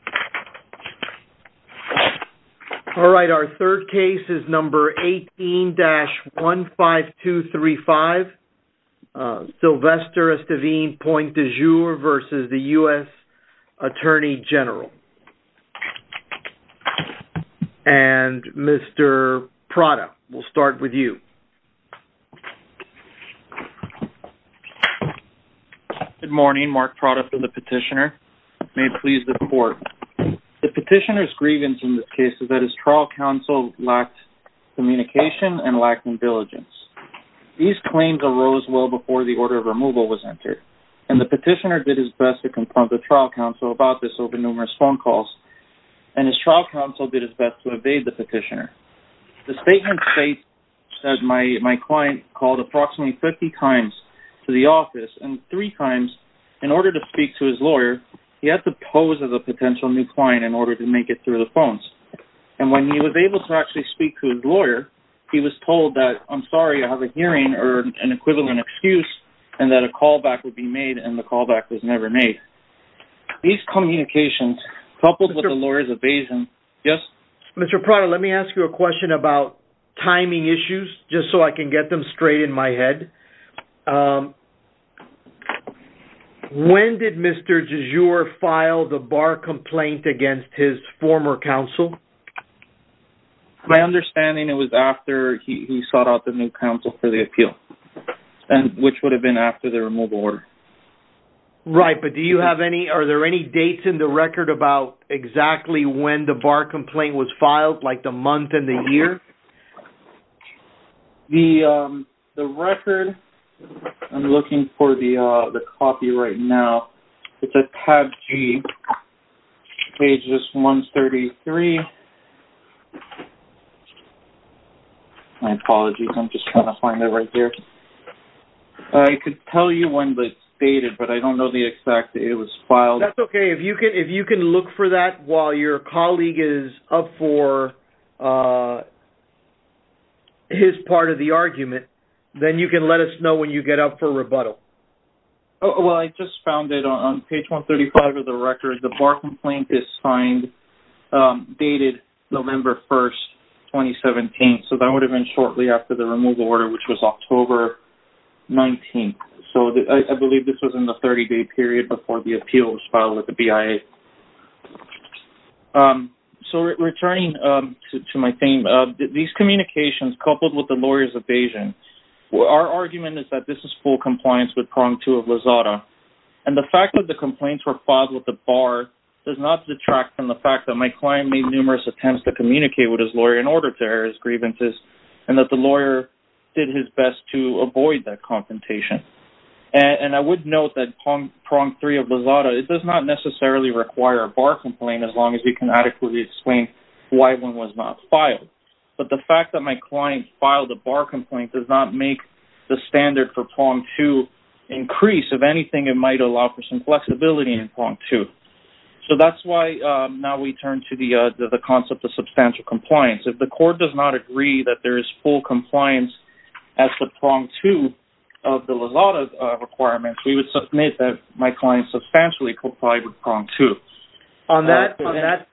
Good morning, Mark Prada for the petitioner. May it please the court that I present to you, Mr. Esteeven Point Du Jour, the U.S. Attorney General's case number 18-15235. The petitioner's grievance in this case is that his trial counsel lacked communication and lacked diligence. These claims arose well before the order of removal was entered, and the petitioner did his best to confront the trial counsel about this over numerous phone calls, and his trial counsel did his best to evade the petitioner. The statement states that my client called approximately 50 times to the office, and three times, in order to speak to his lawyer, he had to pose as a potential new client in order to make it through the phones. And when he was able to actually speak to his lawyer, he was told that, I'm sorry, I have a hearing or an equivalent excuse, and that a callback would be made, and the callback was never made. These communications, coupled with the lawyer's evasion... Mr. Prada, let me ask you a question about timing issues, just so I can get them straight in my head. When did Mr. Du Jour file the bar complaint against his former counsel? My understanding, it was after he sought out the new counsel for the appeal, which would have been after the removal order. Right, but do you have any, are there any dates in the record about exactly when the bar complaint was filed, like the month and the year? The record, I'm looking for the copy right now. It's at tab G, pages 133. My apologies, I'm just trying to find it right here. I could tell you when it's dated, but I don't know the exact date it was filed. That's okay, if you can look for that while your colleague is up for his part of the argument, then you can let us know when you get up for rebuttal. Well, I just found it on page 135 of the record. The bar complaint is signed, dated November 1, 2017, so that would have been shortly after the removal order, which was October 19. So, I believe this was in the 30-day period before the appeal was filed with the BIA. So, returning to my theme, these communications coupled with the lawyer's evasion, our argument is that this is full compliance with Prong 2 of Lozada. And the fact that the complaints were filed with the bar does not detract from the fact that my client made numerous attempts to communicate with his lawyer in order to air his grievances, and that the lawyer did his best to avoid that confrontation. And I would note that Prong 3 of Lozada does not necessarily require a bar complaint as long as you can adequately explain why one was not filed. But the fact that my client filed a bar complaint does not make the standard for Prong 2 increase. If anything, it might allow for some flexibility in Prong 2. So, that's why now we turn to the concept of substantial compliance. If the court does not agree that there is full compliance as to Prong 2 of the Lozada requirements, we would submit that my client substantially complied with Prong 2. On that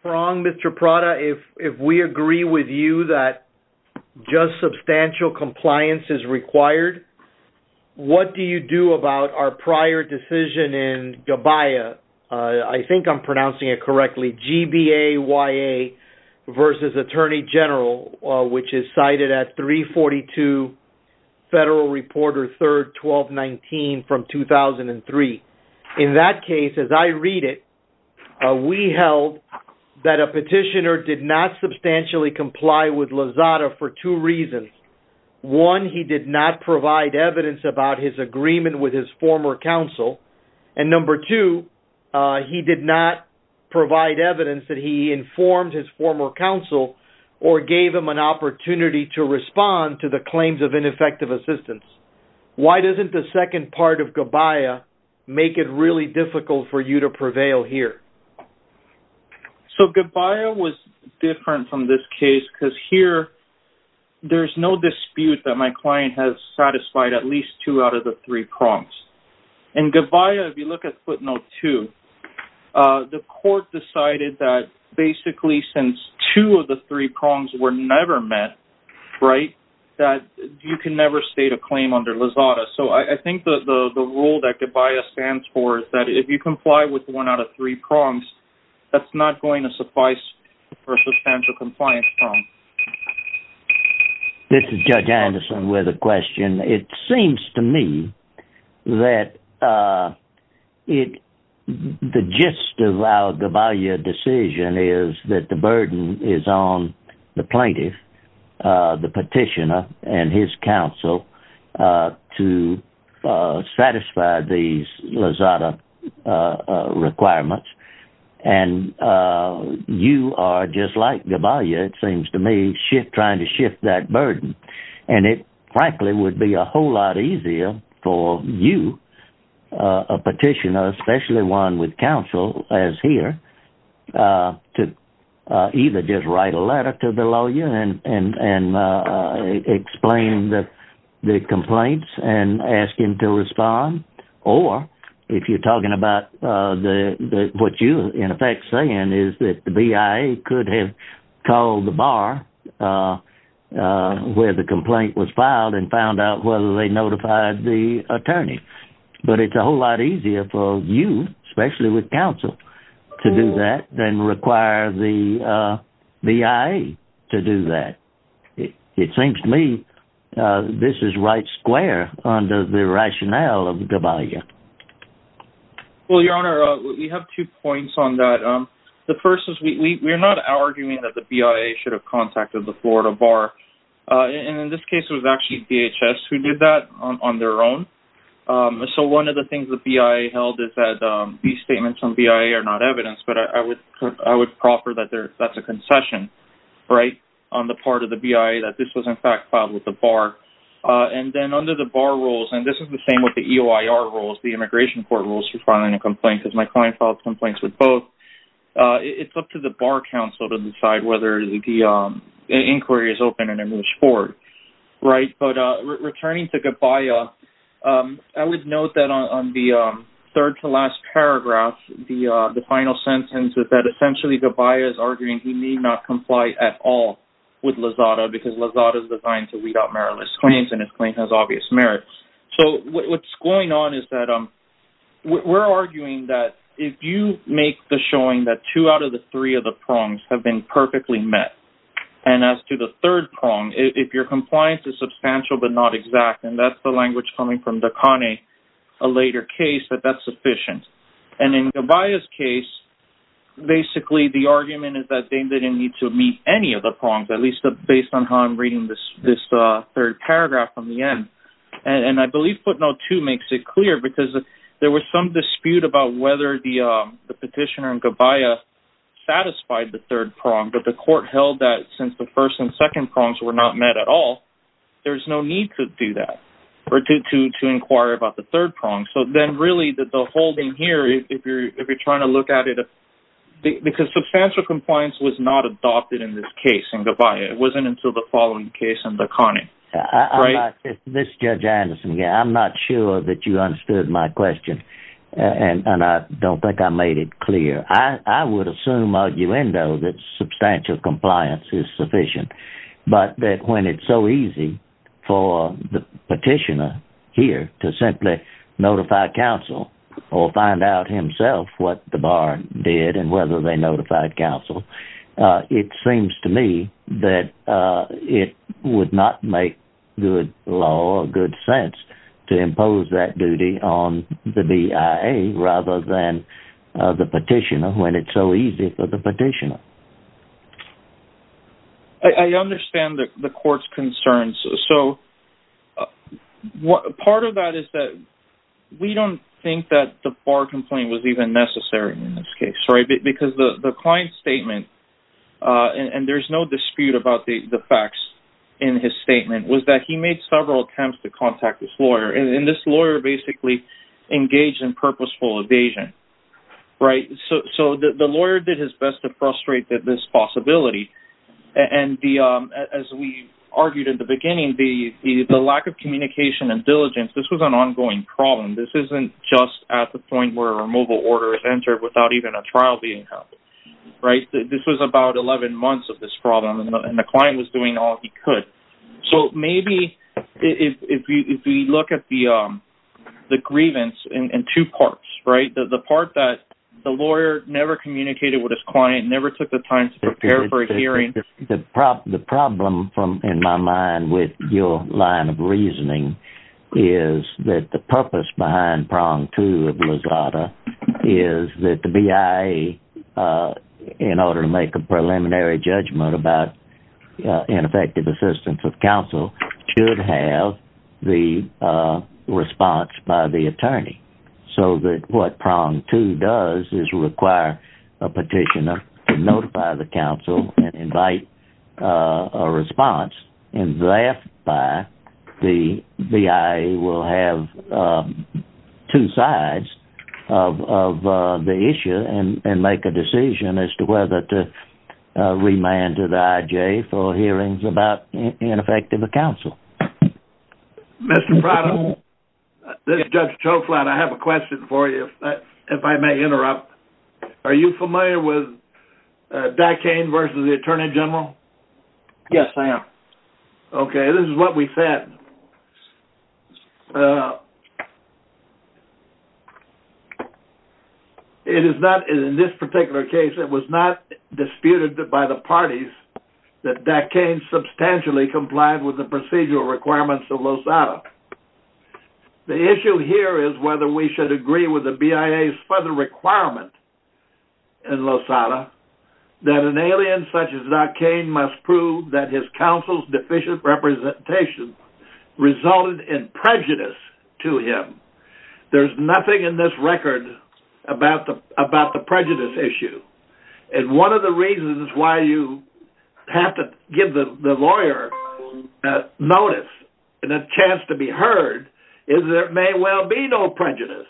Prong, Mr. Prada, if we agree with you that just substantial compliance is required, what do you do about our prior decision in GBAYA, I think I'm pronouncing it correctly, G-B-A-Y-A versus Attorney General, which is cited at 342 Federal Reporter 3, 1219 from 2003. In that case, as I read it, we held that a petitioner did not substantially comply with Lozada for two reasons. One, he did not provide evidence about his agreement with his former counsel. And number two, he did not provide evidence that he informed his former counsel or gave him an opportunity to respond to the claims of ineffective assistance. Why doesn't the second part of GBAYA make it really difficult for you to prevail here? So, GBAYA was different from this case because here there's no dispute that my client has satisfied at least two out of the three prongs. In GBAYA, if you look at footnote 2, the court decided that basically since two of the three prongs were never met, right, that you can never state a claim under Lozada. So I think the rule that GBAYA stands for is that if you comply with one out of three prongs, that's not going to suffice for a substantial compliance prong. This is Judge Anderson with a question. It seems to me that the gist of our GBAYA decision is that the burden is on the plaintiff, the petitioner, and his counsel to satisfy these Lozada requirements. And you are, just like GBAYA, it seems to me, trying to shift that burden. And it frankly would be a whole lot easier for you, a petitioner, especially one with counsel as here, to either just write a letter to the lawyer and explain the complaints and ask him to respond. Or if you're talking about what you're in effect saying is that the BIA could have called the bar where the complaint was filed and found out whether they notified the attorney. But it's a whole lot easier for you, especially with counsel, to do that than require the BIA to do that. It seems to me this is right square under the rationale of GBAYA. Well, Your Honor, we have two points on that. The first is we're not arguing that the BIA should have contacted the Florida Bar. And in this case, it was actually DHS who did that on their own. So one of the things the BIA held is that these statements from BIA are not evidence, but I would proffer that that's a concession on the part of the BIA that this was in fact filed with the bar. And then under the bar rules, and this is the same with the EOIR rules, the Immigration Court rules for filing a complaint, because my client filed complaints with both, it's up to the bar counsel to decide whether the inquiry is open and a move forward. Right, but returning to GBAYA, I would note that on the third to last paragraph, the final sentence is that essentially GBAYA is arguing he need not comply at all with Lozada because Lozada is designed to weed out meritless claims and his claim has obvious merits. So what's going on is that we're arguing that if you make the showing that two out of the three of the prongs have been perfectly met, and as to the third prong, if your compliance is substantial but not exact, and that's the language coming from Dakane a later case, that that's sufficient. And in GBAYA's case, basically the argument is that they didn't need to meet any of the prongs, at least based on how I'm reading this third paragraph from the end. And I believe footnote two makes it clear because there was some dispute about whether the petitioner in GBAYA satisfied the third prong, but the court held that since the first and second prongs were not met at all, there's no need to do that, or to inquire about the third prong. So then really the whole thing here, if you're trying to look at it, because substantial compliance was not adopted in this case in GBAYA. It wasn't until the following case in Dakane. This is Judge Anderson again. I'm not sure that you understood my question, and I don't think I made it clear. I would assume arguendo that substantial compliance is sufficient, but that when it's so easy for the petitioner here to simply notify counsel or find out himself what the bar did and whether they notified counsel, it seems to me that it would not make good law or good sense to impose that duty on the BIA rather than the petitioner when it's so easy for the petitioner. I understand the court's concerns. So part of that is that we don't think that the bar complaint was even necessary in this case. Because the client's statement, and there's no dispute about the facts in his statement, was that he made several attempts to contact his lawyer, and this lawyer basically engaged in purposeful evasion. So the lawyer did his best to frustrate this possibility, and as we argued in the beginning, the lack of communication and diligence, this was an ongoing problem. This isn't just at the point where a removal order is entered without even a trial being held. This was about 11 months of this problem, and the client was doing all he could. So maybe if we look at the grievance in two parts, right? The part that the lawyer never communicated with his client, never took the time to prepare for a hearing. The problem in my mind with your line of reasoning is that the purpose behind prong two of Lozada is that the BIA, in order to make a preliminary judgment about ineffective assistance of counsel, should have the response by the attorney. So that what prong two does is require a petitioner to notify the counsel and invite a response, and thereby the BIA will have two sides of the issue and make a decision as to whether to remand to the IJ for hearings about ineffective counsel. Mr. Prado, this is Judge Choklat. I have a question for you, if I may interrupt. Are you familiar with Dakane versus the Attorney General? Yes, I am. Okay, this is what we said. In this particular case, it was not disputed by the parties that Dakane substantially complied with the procedural requirements of Lozada. The issue here is whether we should agree with the BIA's further requirement in Lozada that an alien such as Dakane must prove that his counsel's deficient representation resulted in prejudice to him. There's nothing in this record about the prejudice issue, and one of the reasons why you have to give the lawyer notice and a chance to be heard is there may well be no prejudice,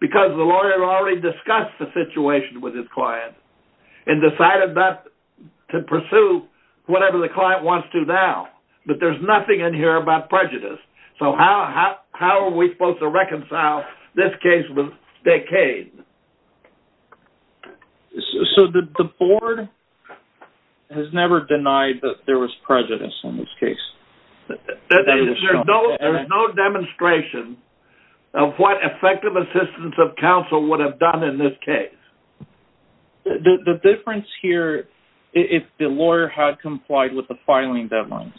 because the lawyer already discussed the situation with his client and decided not to pursue whatever the client wants to now. But there's nothing in here about prejudice, so how are we supposed to reconcile this case with Dakane? So the board has never denied that there was prejudice in this case? There is no demonstration of what effective assistance of counsel would have done in this case. The difference here, if the lawyer had complied with the filing deadlines,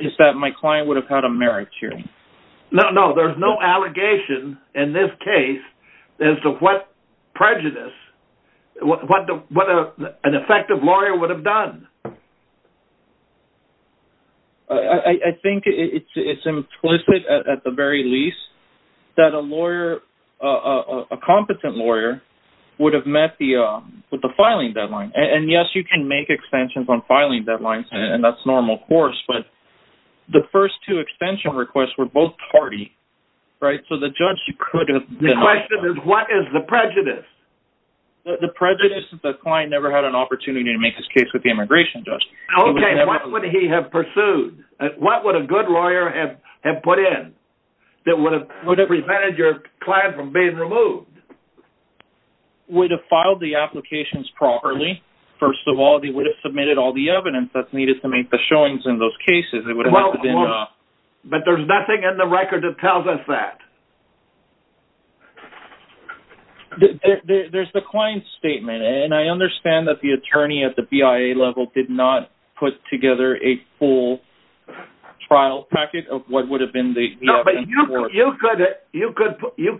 is that my client would have had a merit hearing. No, no, there's no allegation in this case as to what prejudice an effective lawyer would have done. I think it's implicit, at the very least, that a competent lawyer would have met with the filing deadline. And yes, you can make extensions on filing deadlines, and that's normal, of course, but the first two extension requests were both tardy, right? The question is, what is the prejudice? The prejudice is that the client never had an opportunity to make his case with the immigration judge. Okay, what would he have pursued? What would a good lawyer have put in that would have prevented your client from being removed? He would have filed the applications properly. First of all, he would have submitted all the evidence that's needed to make the showings in those cases. But there's nothing in the record that tells us that. There's the client's statement, and I understand that the attorney at the BIA level did not put together a full trial packet of what would have been the evidence. No, but you could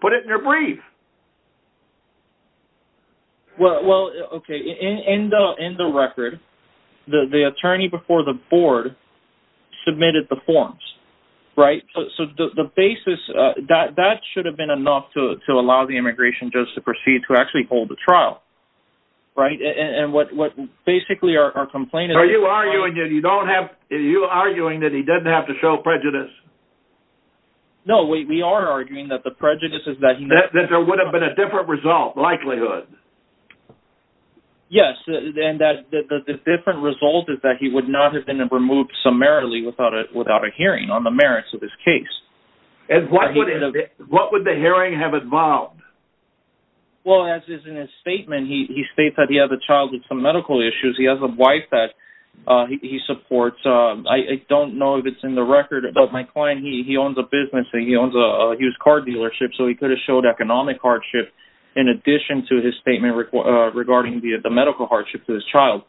have put it in your brief. Well, okay, in the record, the attorney before the board submitted the forms, right? So the basis, that should have been enough to allow the immigration judge to proceed to actually hold the trial, right? Are you arguing that he doesn't have to show prejudice? No, we are arguing that the prejudice is that he... That there would have been a different result, likelihood. Yes, and that the different result is that he would not have been removed summarily without a hearing on the merits of his case. And what would the hearing have involved? Well, as is in his statement, he states that he has a child with some medical issues. He has a wife that he supports. I don't know if it's in the record, but my client, he owns a business. He owns a used car dealership. So he could have showed economic hardship in addition to his statement regarding the medical hardship to his child.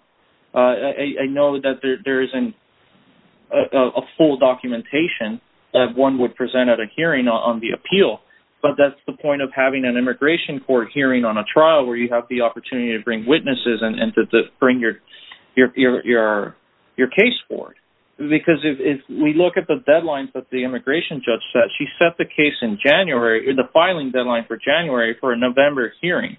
I know that there isn't a full documentation that one would present at a hearing on the appeal. But that's the point of having an immigration court hearing on a trial where you have the opportunity to bring witnesses and to bring your case forward. Because if we look at the deadline that the immigration judge set, she set the case in January, the filing deadline for January for a November hearing.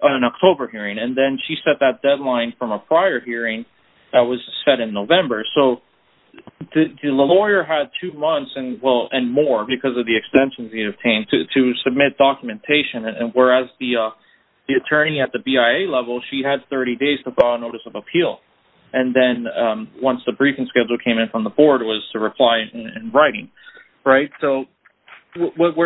An October hearing. And then she set that deadline from a prior hearing that was set in November. So the lawyer had two months and more because of the extensions he obtained to submit documentation. And whereas the attorney at the BIA level, she had 30 days to file a notice of appeal. And then once the briefing schedule came in from the board was to reply in writing. So what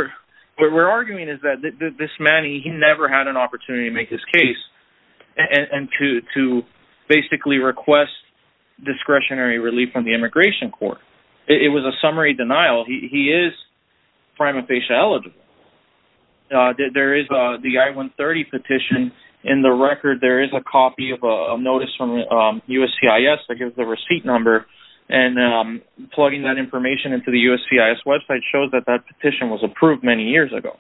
we're arguing is that this man, he never had an opportunity to make his case and to basically request discretionary relief from the immigration court. It was a summary denial. He is prima facie eligible. There is the I-130 petition in the record. There is a copy of a notice from USCIS that gives the receipt number. And plugging that information into the USCIS website shows that that petition was approved many years ago.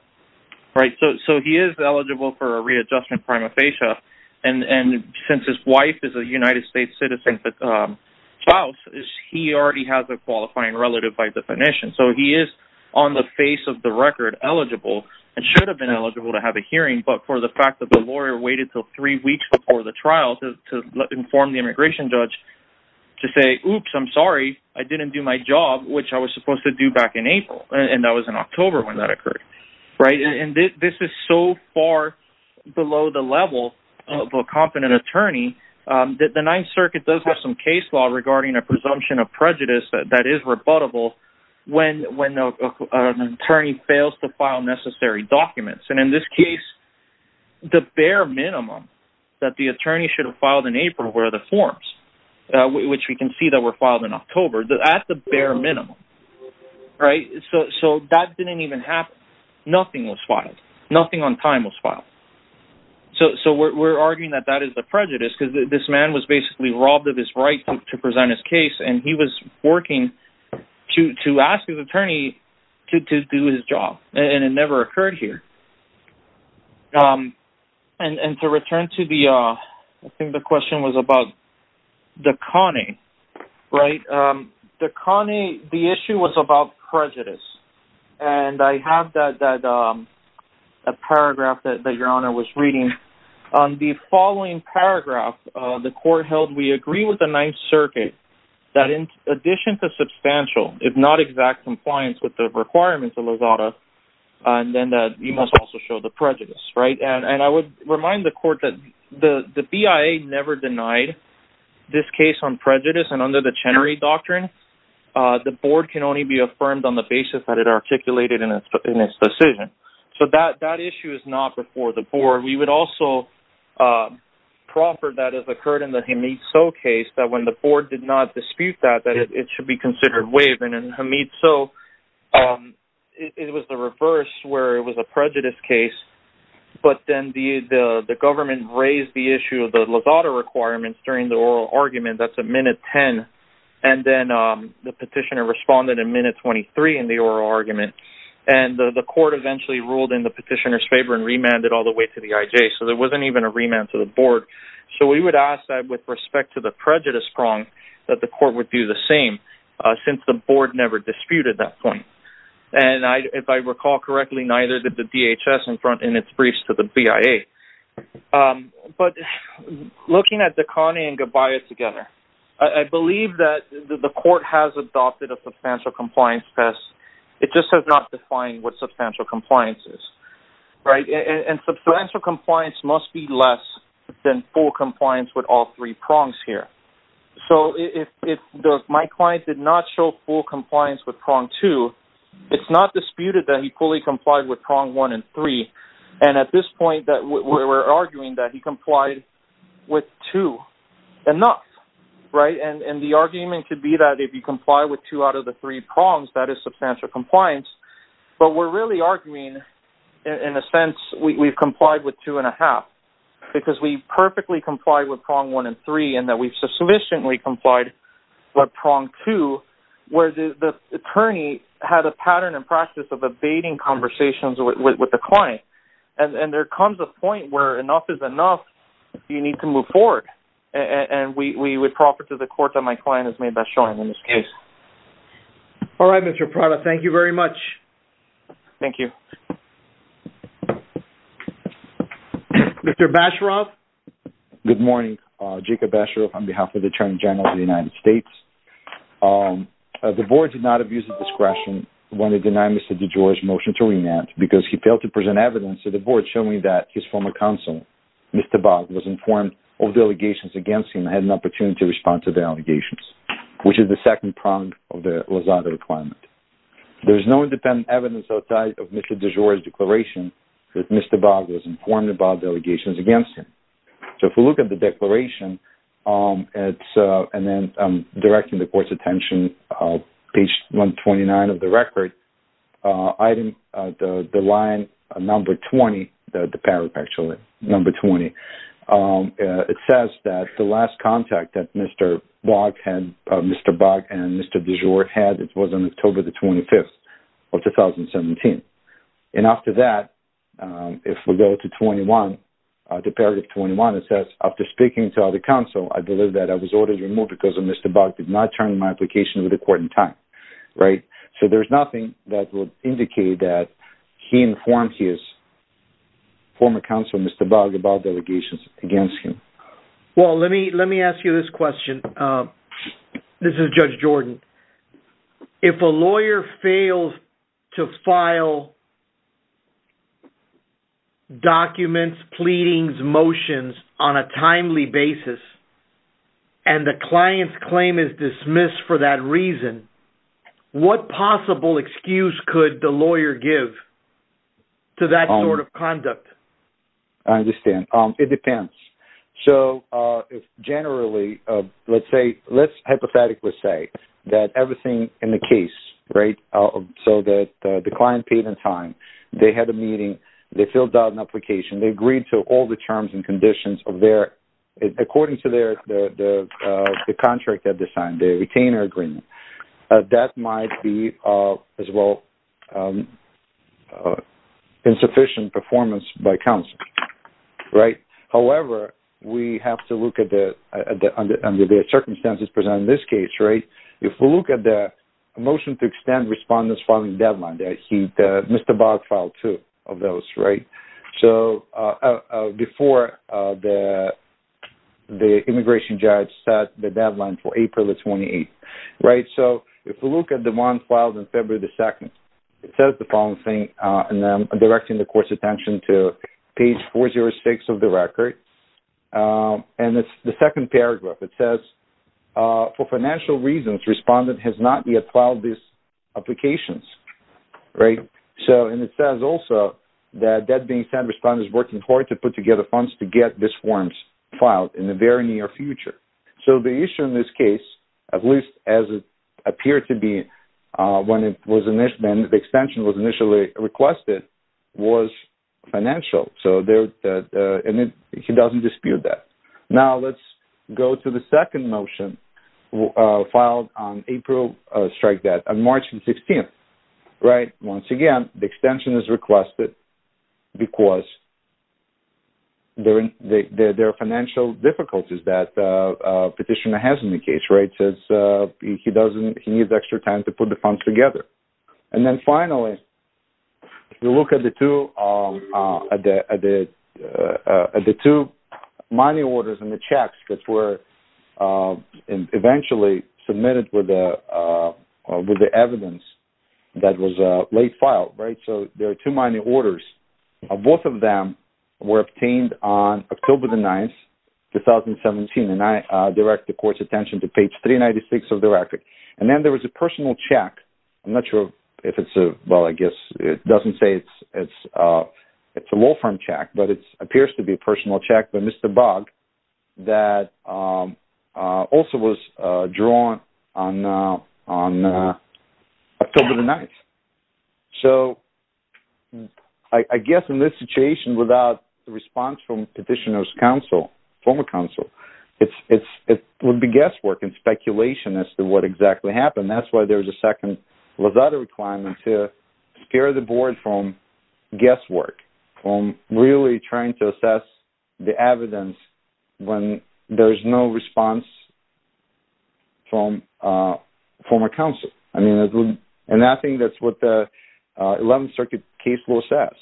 So he is eligible for a readjustment prima facie. And since his wife is a United States citizen, he already has a qualifying relative by definition. So he is on the face of the record eligible and should have been eligible to have a hearing. But for the fact that the lawyer waited until three weeks before the trial to inform the immigration judge to say, Oops, I'm sorry, I didn't do my job, which I was supposed to do back in April. And that was in October when that occurred. And this is so far below the level of a competent attorney that the Ninth Circuit does have some case law regarding a presumption of prejudice that is rebuttable when an attorney fails to file necessary documents. And in this case, the bare minimum that the attorney should have filed in April were the forms, which we can see that were filed in October at the bare minimum. Right. So that didn't even happen. Nothing was filed. Nothing on time was filed. So we're arguing that that is the prejudice because this man was basically robbed of his right to present his case. And he was working to ask his attorney to do his job. And it never occurred here. And to return to the, I think the question was about the conning, right? The conning, the issue was about prejudice. And I have that paragraph that Your Honor was reading. On the following paragraph, the court held, we agree with the Ninth Circuit that in addition to substantial, if not exact compliance with the requirements of Lozada, then that he must also show the prejudice. And I would remind the court that the BIA never denied this case on prejudice. And under the Chenery Doctrine, the board can only be affirmed on the basis that it articulated in its decision. So that issue is not before the board. And we also proffered that as occurred in the Hamid So case, that when the board did not dispute that, that it should be considered waiving. And Hamid So, it was the reverse where it was a prejudice case. But then the government raised the issue of the Lozada requirements during the oral argument. That's at minute 10. And then the petitioner responded at minute 23 in the oral argument. And the court eventually ruled in the petitioner's favor and remanded all the way to the IJ. So there wasn't even a remand to the board. So we would ask that with respect to the prejudice wrong, that the court would do the same. Since the board never disputed that point. And if I recall correctly, neither did the DHS in its briefs to the BIA. But looking at the Connie and Gabbayat together, I believe that the court has adopted a substantial compliance test. It just has not defined what substantial compliance is. And substantial compliance must be less than full compliance with all three prongs here. So if my client did not show full compliance with prong two, it's not disputed that he fully complied with prong one and three. And at this point, we're arguing that he complied with two enough. And the argument could be that if you comply with two out of the three prongs, that is substantial compliance. But we're really arguing, in a sense, we've complied with two and a half. Because we perfectly complied with prong one and three and that we've sufficiently complied with prong two. Where the attorney had a pattern and practice of evading conversations with the client. And there comes a point where enough is enough. You need to move forward. And we would proffer to the court that my client is made by showing in this case. All right, Mr. Prada. Thank you very much. Thank you. Mr. Basharoff. Good morning. Jacob Basharoff on behalf of the Attorney General of the United States. The board did not abuse its discretion when it denied Mr. DeGioia's motion to remand. Because he failed to present evidence to the board showing that his former counsel, Mr. Bogg, was informed of the allegations against him and had an opportunity to respond to the allegations. Which is the second prong of the Lozada requirement. There is no independent evidence outside of Mr. DeGioia's declaration that Mr. Bogg was informed about the allegations against him. So if we look at the declaration, and then directing the court's attention, page 129 of the record. Item, the line number 20, the paragraph actually, number 20. It says that the last contact that Mr. Bogg and Mr. DeGioia had was on October the 25th of 2017. And after that, if we go to 21, to paragraph 21, it says, after speaking to other counsel, I believe that I was ordered removed because Mr. Bogg did not turn in my application to the court in time. Right? So there's nothing that would indicate that he informed his former counsel, Mr. Bogg, about the allegations against him. Well, let me ask you this question. This is Judge Jordan. If a lawyer fails to file documents, pleadings, motions on a timely basis, and the client's claim is dismissed for that reason, what possible excuse could the lawyer give to that sort of conduct? I understand. It depends. So, generally, let's say, let's hypothetically say that everything in the case, right, so that the client paid in time, they had a meeting, they filled out an application, they agreed to all the terms and conditions of their, according to their, the contract that they signed, the retainer agreement. That might be, as well, insufficient performance by counsel. Right? However, we have to look at the, under the circumstances presented in this case, right, if we look at the motion to extend respondent's filing deadline, Mr. Bogg filed two of those, right? So, before the immigration judge set the deadline for April the 28th. Right? So, if we look at the one filed on February the 2nd, it says the following thing, and I'm directing the court's attention to page 406 of the record, and it's the second paragraph. It says, for financial reasons, respondent has not yet filed these applications. Right? So, and it says also that that being said, respondent is working hard to put together funds to get these forms filed in the very near future. So, the issue in this case, at least as it appeared to be when the extension was initially requested, was financial. So, he doesn't dispute that. Now, let's go to the second motion filed on April strike debt on March the 16th. Right? Once again, the extension is requested because there are financial difficulties that petitioner has in the case. Right? With the evidence that was late filed. Right? So, there are two minor orders. Both of them were obtained on October the 9th, 2017, and I direct the court's attention to page 396 of the record. And then there was a personal check. I'm not sure if it's a, well, I guess it doesn't say it's a law firm check, but it appears to be a personal check by Mr. Bogg. That also was drawn on October the 9th. So, I guess in this situation, without the response from petitioner's counsel, former counsel, it would be guesswork and speculation as to what exactly happened. And that's why there's a second Lazada requirement to steer the board from guesswork. From really trying to assess the evidence when there's no response from former counsel. And I think that's what the 11th Circuit case will assess.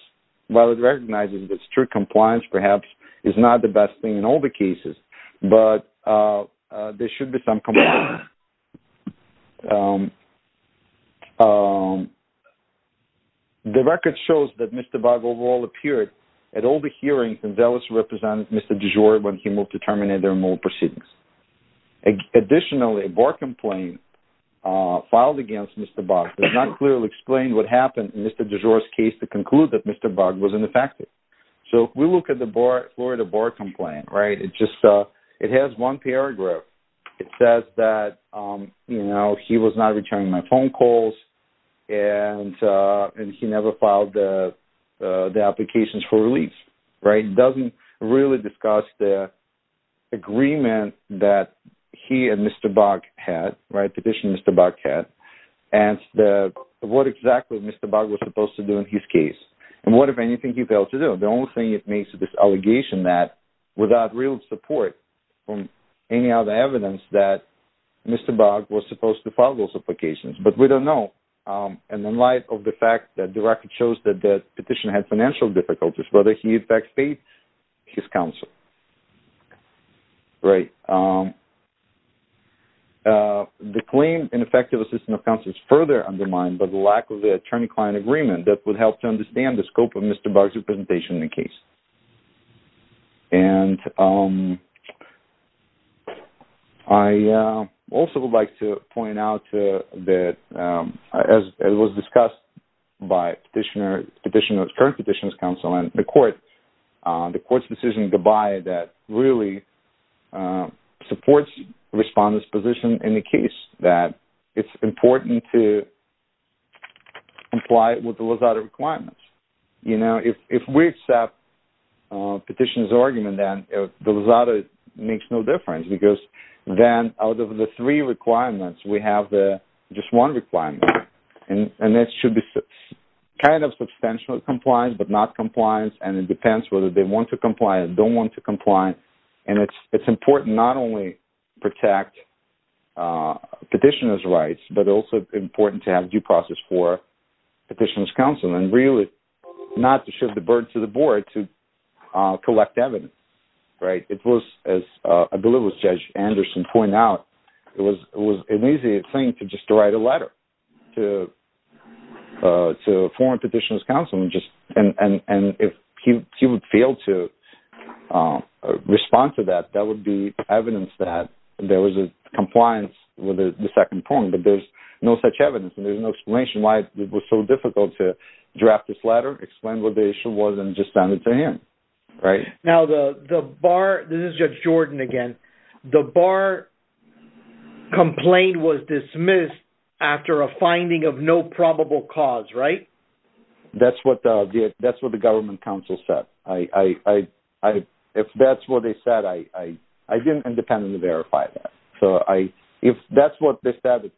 While it recognizes that strict compliance, perhaps, is not the best thing in all the cases, but there should be some compliance. The record shows that Mr. Bogg overall appeared at all the hearings and zealously represented Mr. DuJour when he moved to terminate their immoral proceedings. Additionally, a board complaint filed against Mr. Bogg does not clearly explain what happened in Mr. DuJour's case to conclude that Mr. Bogg was ineffective. So, if we look at the Florida board complaint, it has one paragraph. It says that he was not returning my phone calls and he never filed the applications for release. It doesn't really discuss the agreement that he and Mr. Bogg had, petition Mr. Bogg had, and what exactly Mr. Bogg was supposed to do in his case. And what, if anything, he failed to do. The only thing it makes is this allegation that, without real support from any other evidence, that Mr. Bogg was supposed to file those applications. But we don't know. And in light of the fact that the record shows that the petitioner had financial difficulties, whether he in fact paid his counsel. The claim in effective assistance of counsel is further undermined by the lack of an attorney-client agreement that would help to understand the scope of Mr. Bogg's representation in the case. And I also would like to point out that, as was discussed by petitioner, petitioner, current petitioner's counsel and the court, the court's decision, goodbye, that really supports the respondent's position in the case. That it's important to comply with the Lazada requirements. You know, if we accept petitioner's argument, then the Lazada makes no difference, because then out of the three requirements, we have just one requirement. And that should be kind of substantial compliance, but not compliance, and it depends whether they want to comply or don't want to comply. And it's important not only to protect petitioner's rights, but also important to have due process for petitioner's counsel. And really, not to shift the burden to the board to collect evidence, right? It was, as I believe it was Judge Anderson pointed out, it was an easy thing to just write a letter to former petitioner's counsel, and if he would fail to respond to that, that would be evidence that there was a compliance with the second point. But there's no such evidence, and there's no explanation why it was so difficult to draft this letter, explain what the issue was, and just send it to him. Now the bar, this is Judge Jordan again, the bar complaint was dismissed after a finding of no probable cause, right? That's what the government counsel said. If that's what they said, I didn't independently verify that. So if that's what they said,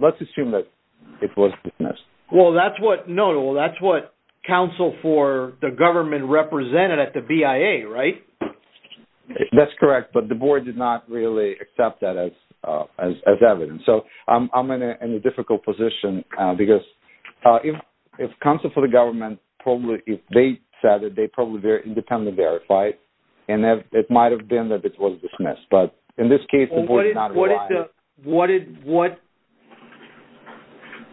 let's assume that it was dismissed. Well, that's what counsel for the government represented at the BIA, right? That's correct, but the board did not really accept that as evidence. So I'm in a difficult position because if counsel for the government, if they said it, they probably independently verified, and it might have been that it was dismissed. But in this case, the board did not rely on it.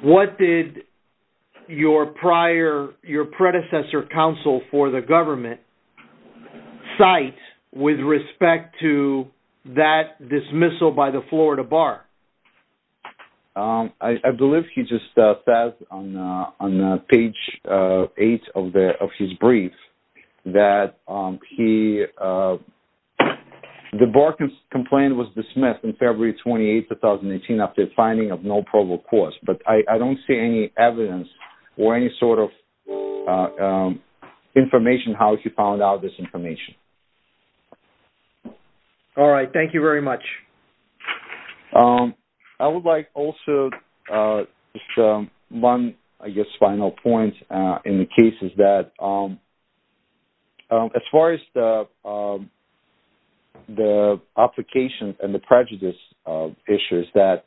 What did your predecessor counsel for the government cite with respect to that dismissal by the Florida bar? I believe he just said on page 8 of his brief that the bar complaint was dismissed on February 28, 2018 after a finding of no probable cause. But I don't see any evidence or any sort of information how he found out this information. All right, thank you very much. I would like also just one, I guess, final point in the case is that as far as the application and the prejudice issues that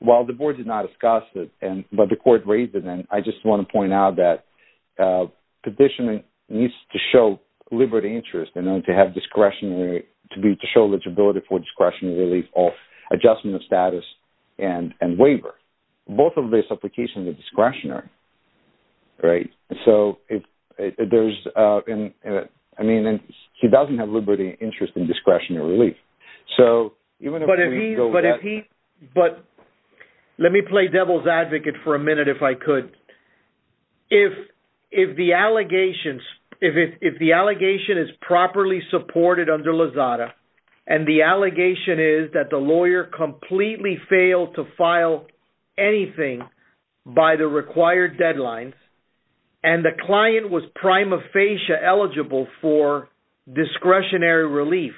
while the board did not discuss it, but the court raised it, and I just want to point out that petitioner needs to show liberty interest in order to have discretionary, to be able to show eligibility for discretionary relief or adjustment of status and waiver. Both of these applications are discretionary, right? So there's, I mean, he doesn't have liberty interest in discretionary relief. But if he, but let me play devil's advocate for a minute if I could. If the allegations, if the allegation is properly supported under Lozada, and the allegation is that the lawyer completely failed to file anything by the required deadlines, and the client was prima facie eligible for discretionary relief,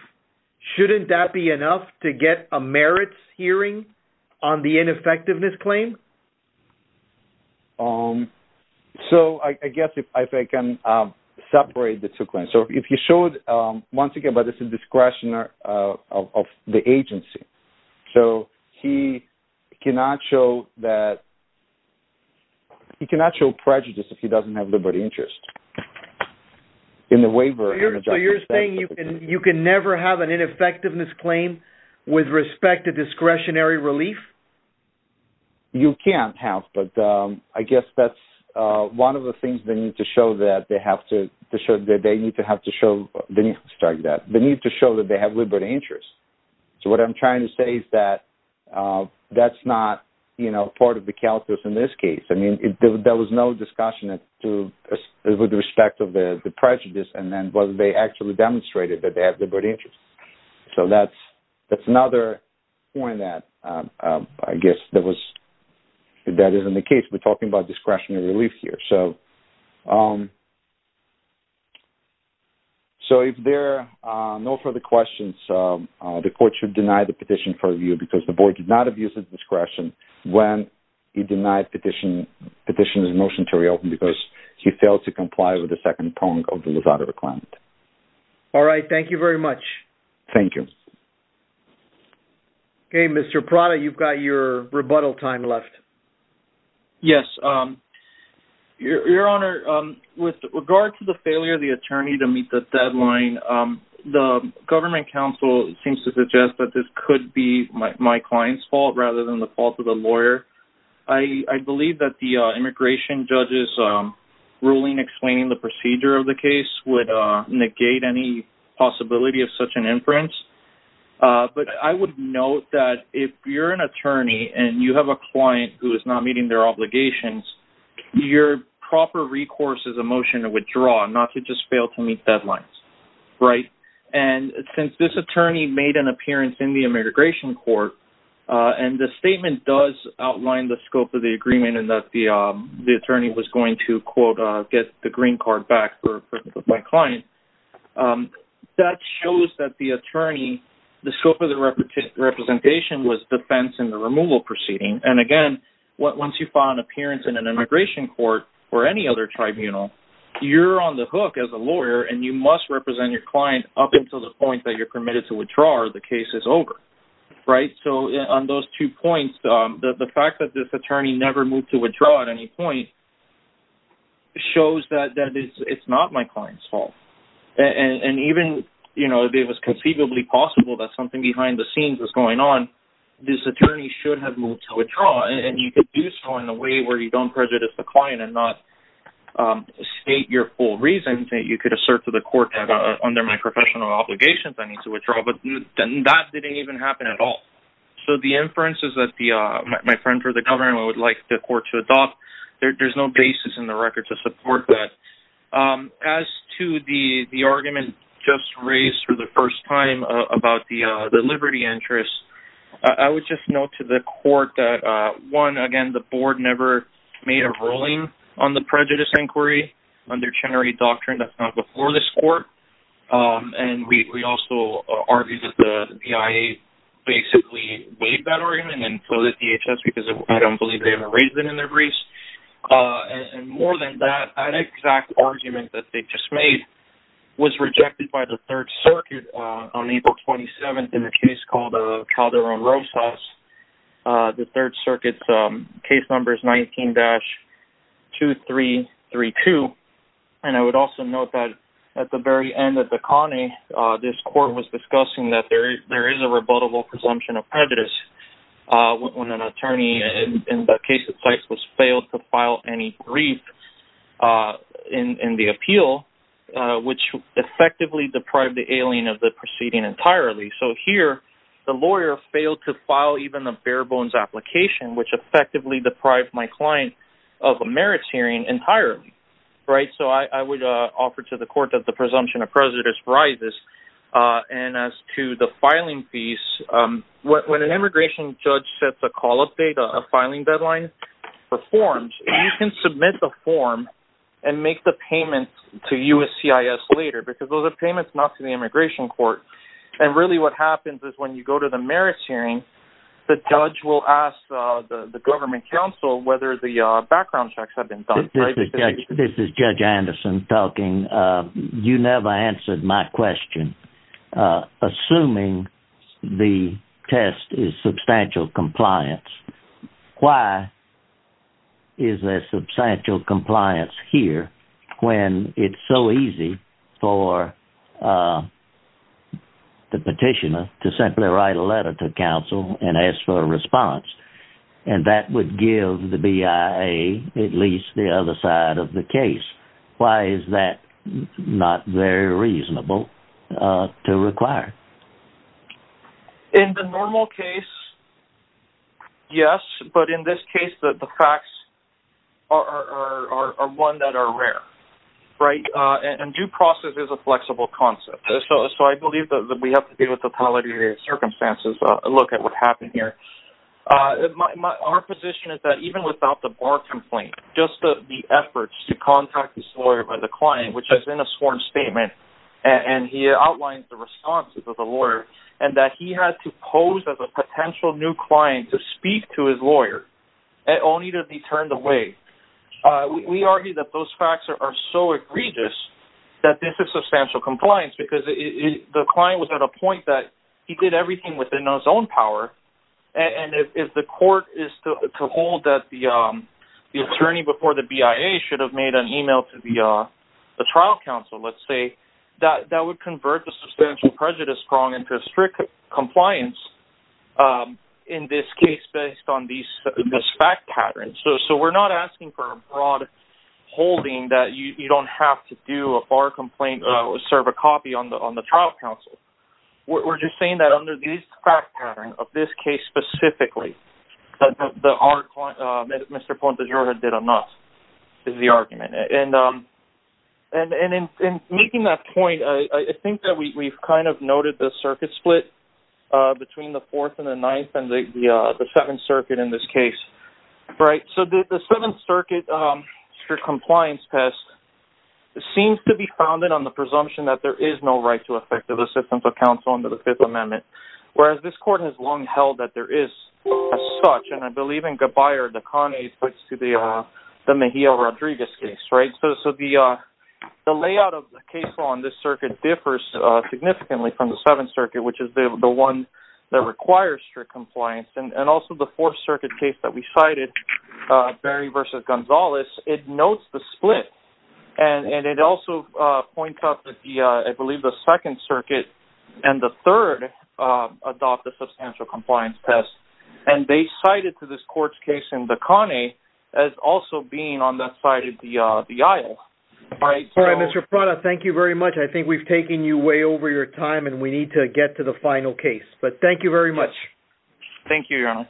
shouldn't that be enough to get a merits hearing on the ineffectiveness claim? So I guess if I can separate the two claims. So if he showed, once again, but it's a discretion of the agency. So he cannot show that, he cannot show prejudice if he doesn't have liberty interest in the waiver. So you're saying you can never have an ineffectiveness claim with respect to discretionary relief? You can't have, but I guess that's one of the things they need to show that they have to, they need to have to show, they need to show that they have liberty interest. So what I'm trying to say is that that's not, you know, part of the calculus in this case. I mean, there was no discussion with respect to the prejudice and then whether they actually demonstrated that they have liberty interest. So that's another point that I guess that was, that isn't the case. We're talking about discretionary relief here. So if there are no further questions, the court should deny the petition for review because the board did not abuse his discretion when he denied petition, petitioned his motion to reopen because he failed to comply with the second poem of the Lozada reclaimed. All right, thank you very much. Thank you. Okay, Mr. Prada, you've got your rebuttal time left. Yes. Your Honor, with regard to the failure of the attorney to meet the deadline, the government counsel seems to suggest that this could be my client's fault rather than the fault of the lawyer. I believe that the immigration judge's ruling explaining the procedure of the case would negate any possibility of such an inference. But I would note that if you're an attorney and you have a client who is not meeting their obligations, your proper recourse is a motion to withdraw, not to just fail to meet deadlines. Right. And since this attorney made an appearance in the immigration court and the statement does outline the scope of the agreement and that the attorney was going to, quote, get the green card back for my client, that shows that the attorney, the scope of the representation was defense in the removal proceeding. And again, once you file an appearance in an immigration court or any other tribunal, you're on the hook as a lawyer and you must represent your client up until the point that you're permitted to withdraw or the case is over. Right, so on those two points, the fact that this attorney never moved to withdraw at any point shows that it's not my client's fault. And even if it was conceivably possible that something behind the scenes was going on, this attorney should have moved to withdraw. And you could do so in a way where you don't prejudice the client and not state your full reasons that you could assert to the court that under my professional obligations I need to withdraw, but that didn't even happen at all. So the inference is that my friend for the government would like the court to adopt, there's no basis in the record to support that. As to the argument just raised for the first time about the liberty interest, I would just note to the court that one, again, the board never made a ruling on the prejudice inquiry under Chenery Doctrine, that's not before this court. And we also argue that the DIA basically waived that argument and floated DHS because I don't believe they have a reason in their briefs. And more than that, an exact argument that they just made was rejected by the Third Circuit on April 27th in a case called Calderon-Rosas. The Third Circuit's case number is 19-2332. And I would also note that at the very end of the Connie, this court was discussing that there is a rebuttable presumption of prejudice when an attorney in that case was failed to file any brief in the appeal, which effectively deprived the alien of the proceeding entirely. So here, the lawyer failed to file even a bare-bones application, which effectively deprived my client of a merits hearing entirely. So I would offer to the court that the presumption of prejudice rises. And as to the filing fees, when an immigration judge sets a call-up date, a filing deadline for forms, you can submit the form and make the payment to USCIS later because those are payments not to the immigration court. And really what happens is when you go to the merits hearing, the judge will ask the government counsel whether the background checks have been done. This is Judge Anderson talking. You never answered my question. Assuming the test is substantial compliance, why is there substantial compliance here when it's so easy for the petitioner to simply write a letter to counsel and ask for a response? And that would give the BIA at least the other side of the case. Why is that not very reasonable to require? In the normal case, yes. But in this case, the facts are one that are rare. And due process is a flexible concept. So I believe that we have to deal with the totality of the circumstances and look at what happened here. Our position is that even without the bar complaint, just the efforts to contact this lawyer by the client, which is in a sworn statement, and he outlines the responses of the lawyer, and that he has to pose as a potential new client to speak to his lawyer, only to be turned away. We argue that those facts are so egregious that this is substantial compliance because the client was at a point that he did everything within his own power. And if the court is to hold that the attorney before the BIA should have made an email to the trial counsel, let's say, that would convert the substantial prejudice wrong into strict compliance in this case based on this fact pattern. So we're not asking for a broad holding that you don't have to do a bar complaint or serve a copy on the trial counsel. We're just saying that under this fact pattern, of this case specifically, that Mr. Pontejora did enough is the argument. And in making that point, I think that we've kind of noted the circuit split between the Fourth and the Ninth and the Seventh Circuit in this case. So the Seventh Circuit strict compliance test seems to be founded on the presumption that there is no right to effective assistance of counsel under the Fifth Amendment, whereas this court has long held that there is as such. And I believe in Gabbayer de Convy's case to the Mejia-Rodriguez case. So the layout of the case on this circuit differs significantly from the Seventh Circuit, which is the one that requires strict compliance. And also the Fourth Circuit case that we cited, Berry v. Gonzalez, it notes the split. And it also points out that, I believe, the Second Circuit and the Third adopted substantial compliance tests. And they cited to this court's case in De Conny as also being on that side of the aisle. All right, Mr. Prada, thank you very much. I think we've taken you way over your time, and we need to get to the final case. But thank you very much. Thank you, Your Honor.